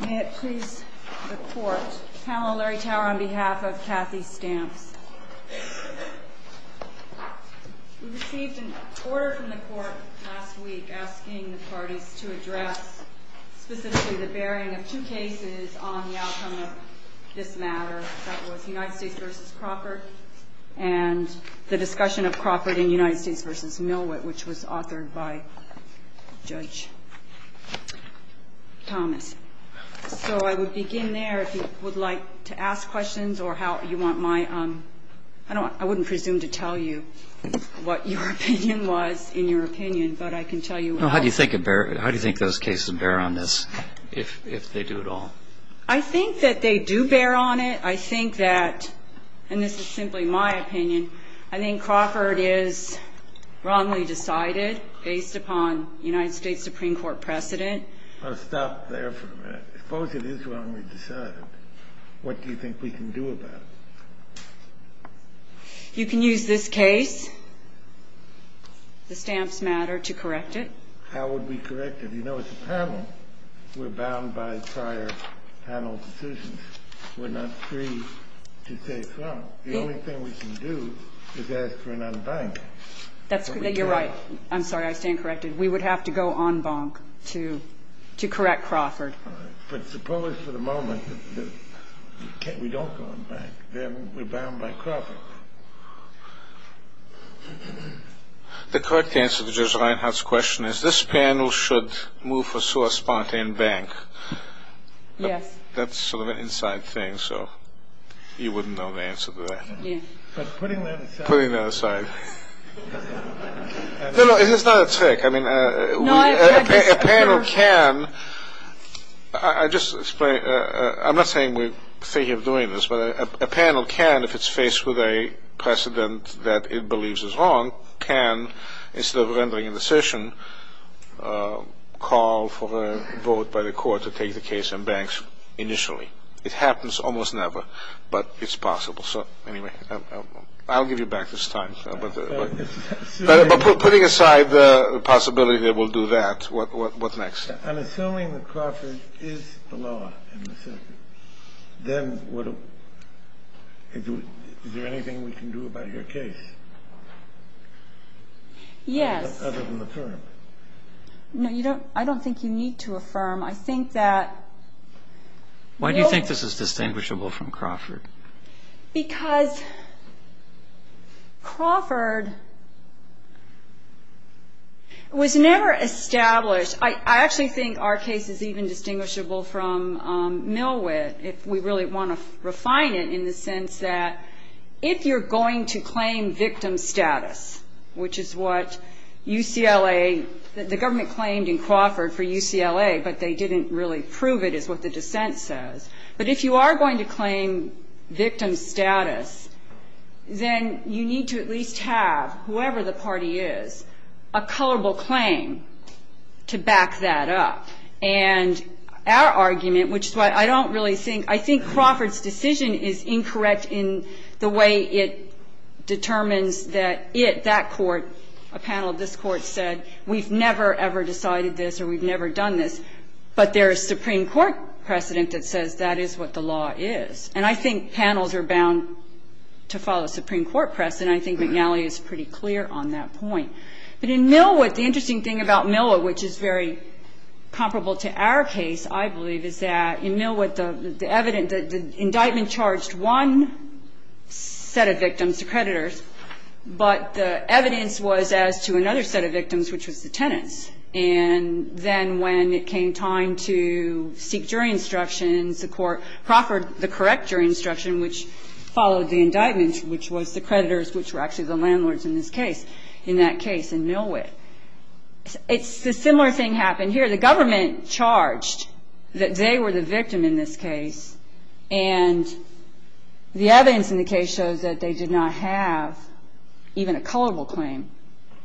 We received an order from the court last week asking the parties to address specifically the bearing of two cases on the outcome of this matter, that was United States v. Crawford and the discussion of Crawford and United States v. Milwaukee, which was authored by Judge Thomas. So I would begin there, if you would like to ask questions or how you want my, I don't, I wouldn't presume to tell you what your opinion was in your opinion, but I can tell you what else. How do you think those cases bear on this if they do at all? I think that they do bear on it. I think that, and this is simply my opinion, I think Crawford is wrongly decided based upon United States Supreme Court precedent. I'll stop there for a minute. Suppose it is wrongly decided. What do you think we can do about it? You can use this case, the Stamps matter, to correct it. How would we correct it? You know, it's a panel. We're bound by prior panel decisions. We're not free to say it's wrong. The only thing we can do is ask for an en banc. You're right. I'm sorry, I stand corrected. We would have to go en banc to correct Crawford. But suppose for the moment that we don't go en banc, then we're bound by Crawford. The correct answer to Judge Reinhart's question is this panel should move for sua spontane banc. Yes. That's sort of an inside thing, so you wouldn't know the answer to that. Putting that aside. No, no, it's not a trick. I mean, a panel can, I just explained, I'm not saying we're thinking of doing this, but a panel can, if it's faced with a precedent that it believes is wrong, can, instead of rendering a decision, call for a vote by the court to take the case en banc initially. It happens almost never, but it's possible. So anyway, I'll give you back this time. But putting aside the possibility that we'll do that, what's next? I'm assuming that Crawford is the law in this instance. Then is there anything we can do about your case? Yes. Other than affirm. No, I don't think you need to affirm. I think that. Why do you think this is distinguishable from Crawford? Because Crawford was never established. I actually think our case is even distinguishable from Millwood if we really want to refine it in the sense that if you're going to claim victim status, which is what UCLA, the government claimed in Crawford for UCLA, but they didn't really prove it, is what the dissent says. But if you are going to claim victim status, then you need to at least have, whoever the party is, a colorable claim to back that up. And our argument, which is why I don't really think, I think Crawford's decision is incorrect in the way it determines that it, that court, a panel of this court, said we've never, ever decided this or we've never done this. But there is Supreme Court precedent that says that is what the law is. And I think panels are bound to follow Supreme Court precedent. I think McNally is pretty clear on that point. But in Millwood, the interesting thing about Millwood, which is very comparable to our case, I believe, is that in Millwood, the evidence, the indictment charged one set of victims, the creditors, but the evidence was as to another set of victims, which was the tenants. And then when it came time to seek jury instructions, the court proffered the correct jury instruction, which followed the indictment, which was the creditors, which were actually the landlords in this case, in that case, in Millwood. It's a similar thing happened here. The government charged that they were the victim in this case. And the evidence in the case shows that they did not have even a colorable claim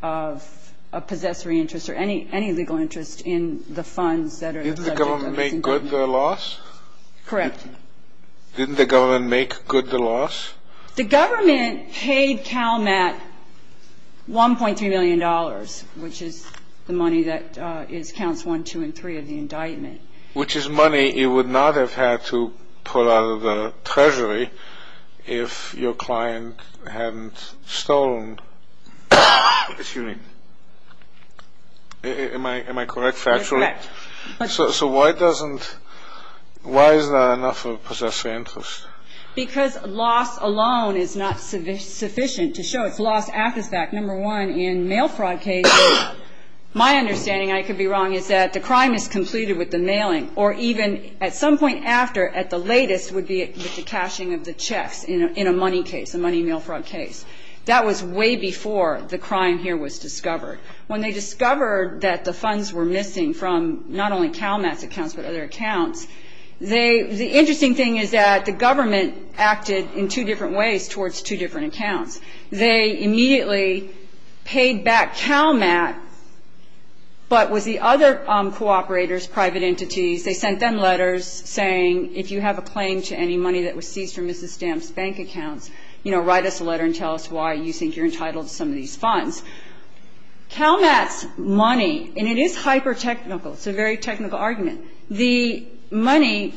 of a possessory interest or any legal interest in the funds that are subject of this indictment. Didn't the government make good the loss? Correct. Didn't the government make good the loss? The government paid CalMAT $1.3 million, which is the money that is counts 1, 2, and 3 of the indictment. Which is money it would not have had to pull out of the treasury if your client hadn't stolen. Excuse me. Am I correct, factually? Yes, you're correct. So why doesn't, why is there not enough of a possessory interest? Because loss alone is not sufficient to show it's loss at this fact. Number one, in mail fraud cases, my understanding, I could be wrong, is that the crime is completed with the mailing or even at some point after, at the latest, would be with the cashing of the checks in a money case, a money mail fraud case. That was way before the crime here was discovered. When they discovered that the funds were missing from not only CalMAT's accounts but other accounts, the interesting thing is that the government acted in two different ways towards two different accounts. They immediately paid back CalMAT, but with the other cooperators, private entities, they sent them letters saying if you have a claim to any money that was seized from Mrs. Stamp's bank accounts, you know, write us a letter and tell us why you think you're entitled to some of these funds. CalMAT's money, and it is hyper-technical. It's a very technical argument. The money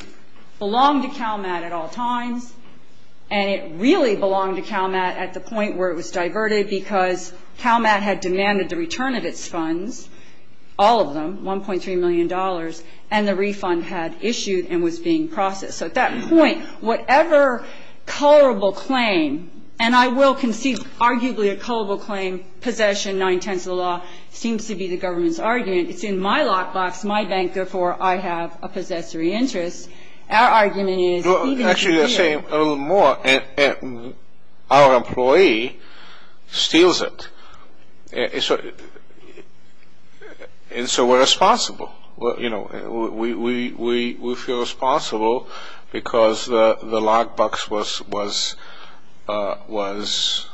belonged to CalMAT at all times, and it really belonged to CalMAT at the point where it was diverted because CalMAT had demanded the return of its funds, all of them, $1.3 million, and the refund had issued and was being processed. So at that point, whatever colorable claim, and I will concede arguably a colorable claim, possession, nine-tenths of the law, seems to be the government's argument. It's in my lockbox, my bank, therefore I have a possessory interest. Our argument is even here. Actually, you're saying a little more. Our employee steals it, and so we're responsible. We feel responsible because the lockbox was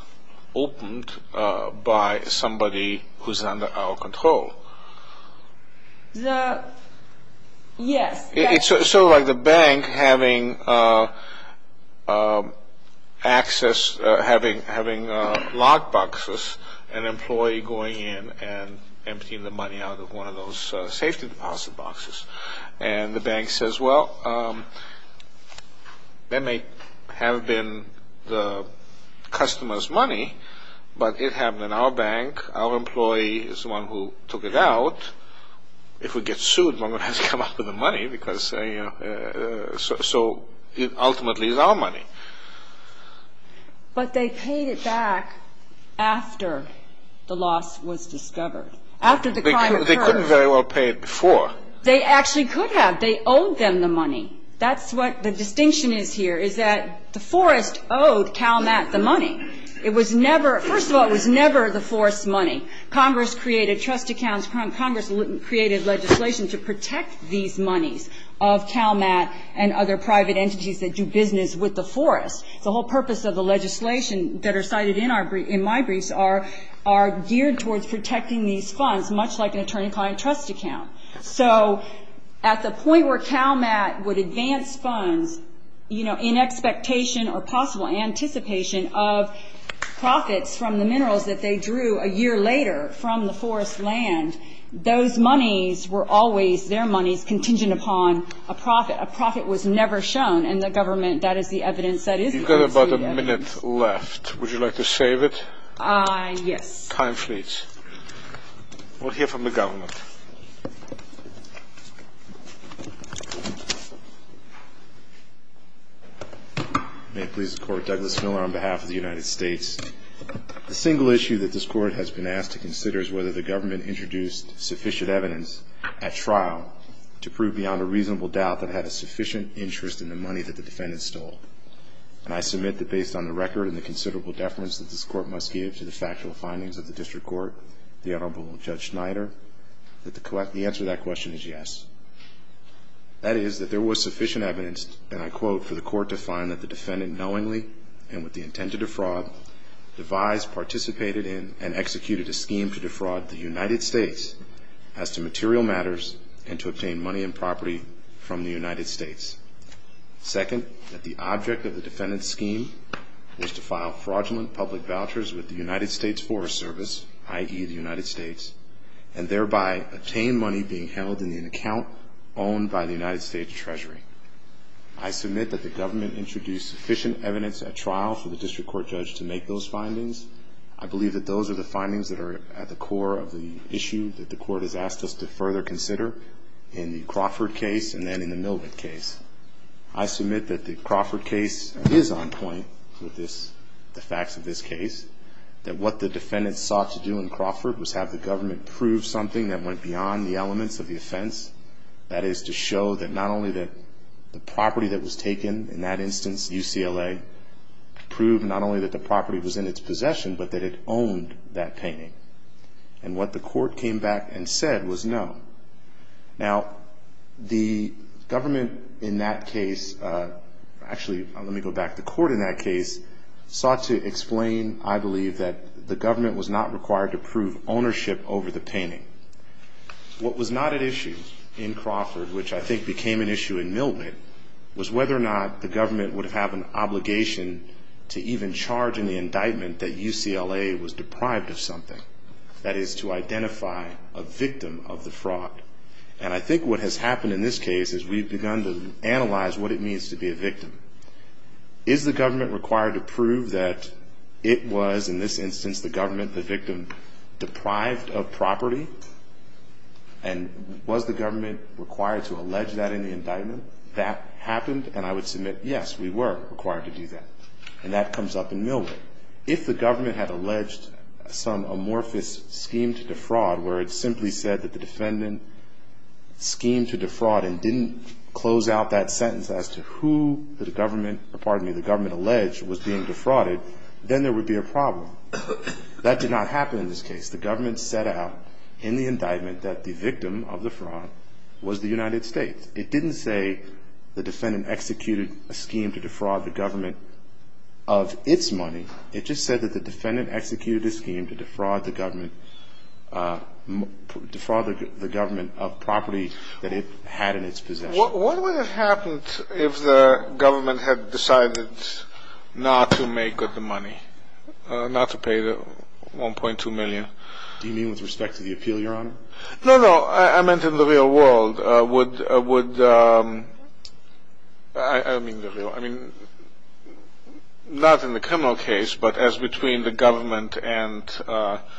opened by somebody who's under our control. Yes. It's sort of like the bank having access, having lockboxes, an employee going in and emptying the money out of one of those safety deposit boxes. And the bank says, well, that may have been the customer's money, but it happened in our bank. Our employee is the one who took it out. If we get sued, we're going to have to come up with the money because, you know, so ultimately it's our money. But they paid it back after the loss was discovered, after the crime occurred. They couldn't very well pay it before. They actually could have. They owed them the money. That's what the distinction is here, is that the forest owed CalMAT the money. Congress created trust accounts. Congress created legislation to protect these monies of CalMAT and other private entities that do business with the forest. The whole purpose of the legislation that are cited in my briefs are geared towards protecting these funds, much like an attorney-client trust account. So at the point where CalMAT would advance funds, you know, in expectation or possible anticipation of profits from the minerals that they drew a year later from the forest land, those monies were always their monies contingent upon a profit. A profit was never shown, and the government, that is the evidence. You've got about a minute left. Would you like to save it? Yes. Time fleets. We'll hear from the government. May it please the Court. Douglas Miller on behalf of the United States. The single issue that this Court has been asked to consider is whether the government introduced sufficient evidence at trial to prove beyond a reasonable doubt that it had a sufficient interest in the money that the defendant stole. And I submit that based on the record and the considerable deference that this Court must give to the factual findings of the district court, the Honorable Judge Schneider, that the answer to that question is yes. That is, that there was sufficient evidence, and I quote, for the Court to find that the defendant knowingly and with the intent to defraud devised, participated in, and executed a scheme to defraud the United States as to material matters and to obtain money and property from the United States. Second, that the object of the defendant's scheme was to file fraudulent public vouchers with the United States Forest Service, i.e., the United States, and thereby obtain money being held in an account owned by the United States Treasury. I submit that the government introduced sufficient evidence at trial for the district court judge to make those findings. I believe that those are the findings that are at the core of the issue that the Court has asked us to further consider in the Crawford case and then in the Milvett case. I submit that the Crawford case is on point with the facts of this case, that what the defendant sought to do in Crawford was have the government prove something that went beyond the elements of the offense. That is, to show that not only that the property that was taken, in that instance UCLA, proved not only that the property was in its possession, but that it owned that painting. And what the court came back and said was no. Now, the government in that case, actually, let me go back, the court in that case sought to explain, I believe, that the government was not required to prove ownership over the painting. What was not at issue in Crawford, which I think became an issue in Milvett, was whether or not the government would have an obligation to even charge in the indictment that UCLA was deprived of something. That is, to identify a victim of the fraud. And I think what has happened in this case is we've begun to analyze what it means to be a victim. Is the government required to prove that it was, in this instance, the government, the victim, deprived of property? And was the government required to allege that in the indictment? That happened, and I would submit, yes, we were required to do that. And that comes up in Milvett. If the government had alleged some amorphous scheme to defraud, where it simply said that the defendant schemed to defraud and didn't close out that sentence as to who the government alleged was being defrauded, then there would be a problem. That did not happen in this case. The government set out in the indictment that the victim of the fraud was the United States. It didn't say the defendant executed a scheme to defraud the government of its money. It just said that the defendant executed a scheme to defraud the government of property that it had in its possession. What would have happened if the government had decided not to make up the money, not to pay the $1.2 million? Do you mean with respect to the appeal, Your Honor? No, no. I meant in the real world. I don't mean the real world. I mean not in the criminal case, but as between the government and the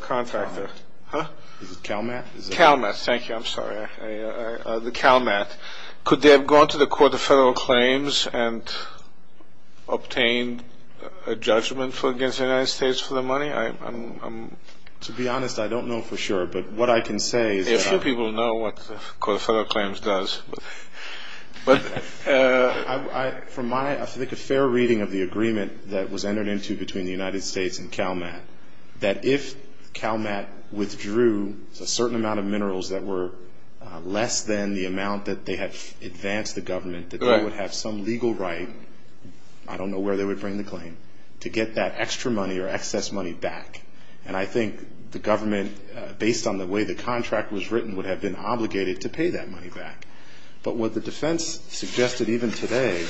contractor. CalMAT? CalMAT. Thank you. I'm sorry. The CalMAT. Could they have gone to the Court of Federal Claims and obtained a judgment against the United States for the money? To be honest, I don't know for sure, but what I can say is that— A few people know what the Court of Federal Claims does. I think a fair reading of the agreement that was entered into between the United States and CalMAT, that if CalMAT withdrew a certain amount of minerals that were less than the amount that they had advanced the government, that they would have some legal right—I don't know where they would bring the claim—to get that extra money or excess money back. And I think the government, based on the way the contract was written, would have been obligated to pay that money back. But what the defense suggested, even today,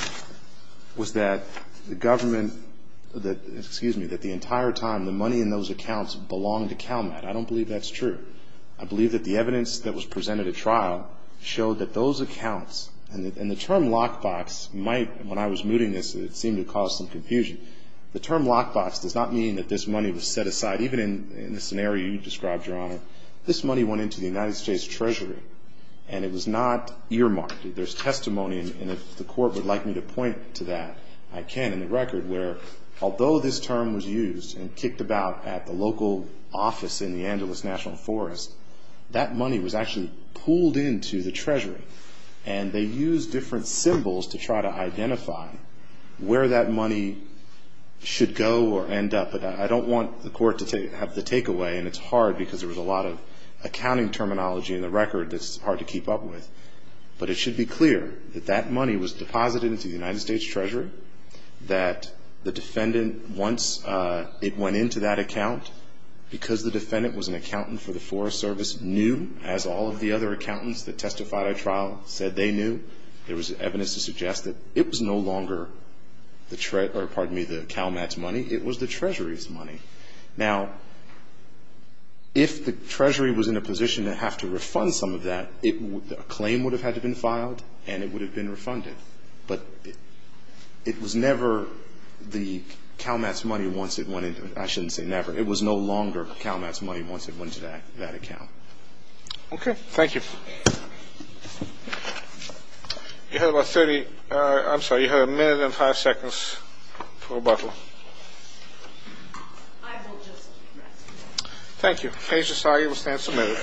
was that the government—excuse me, that the entire time the money in those accounts belonged to CalMAT. I don't believe that's true. I believe that the evidence that was presented at trial showed that those accounts—and the term lockbox might, when I was mooting this, it seemed to cause some confusion. The term lockbox does not mean that this money was set aside, even in the scenario you described, Your Honor. This money went into the United States Treasury, and it was not earmarked. There's testimony, and if the court would like me to point to that, I can, in the record, where although this term was used and kicked about at the local office in the Angeles National Forest, that money was actually pooled into the Treasury. And they used different symbols to try to identify where that money should go or end up. But I don't want the court to have the takeaway, and it's hard because there was a lot of accounting terminology in the record that's hard to keep up with. But it should be clear that that money was deposited into the United States Treasury, that the defendant, once it went into that account, because the defendant was an accountant for the Forest Service, knew, as all of the other accountants that testified at trial said they knew, there was evidence to suggest that it was no longer the CalMATS money. It was the Treasury's money. Now, if the Treasury was in a position to have to refund some of that, a claim would have had to be filed, and it would have been refunded. But it was never the CalMATS money once it went into it. I shouldn't say never. It was no longer CalMATS money once it went into that account. Okay, thank you. You have about 30, I'm sorry, you have a minute and five seconds for rebuttal. Thank you. Case decided. We'll stand submitted.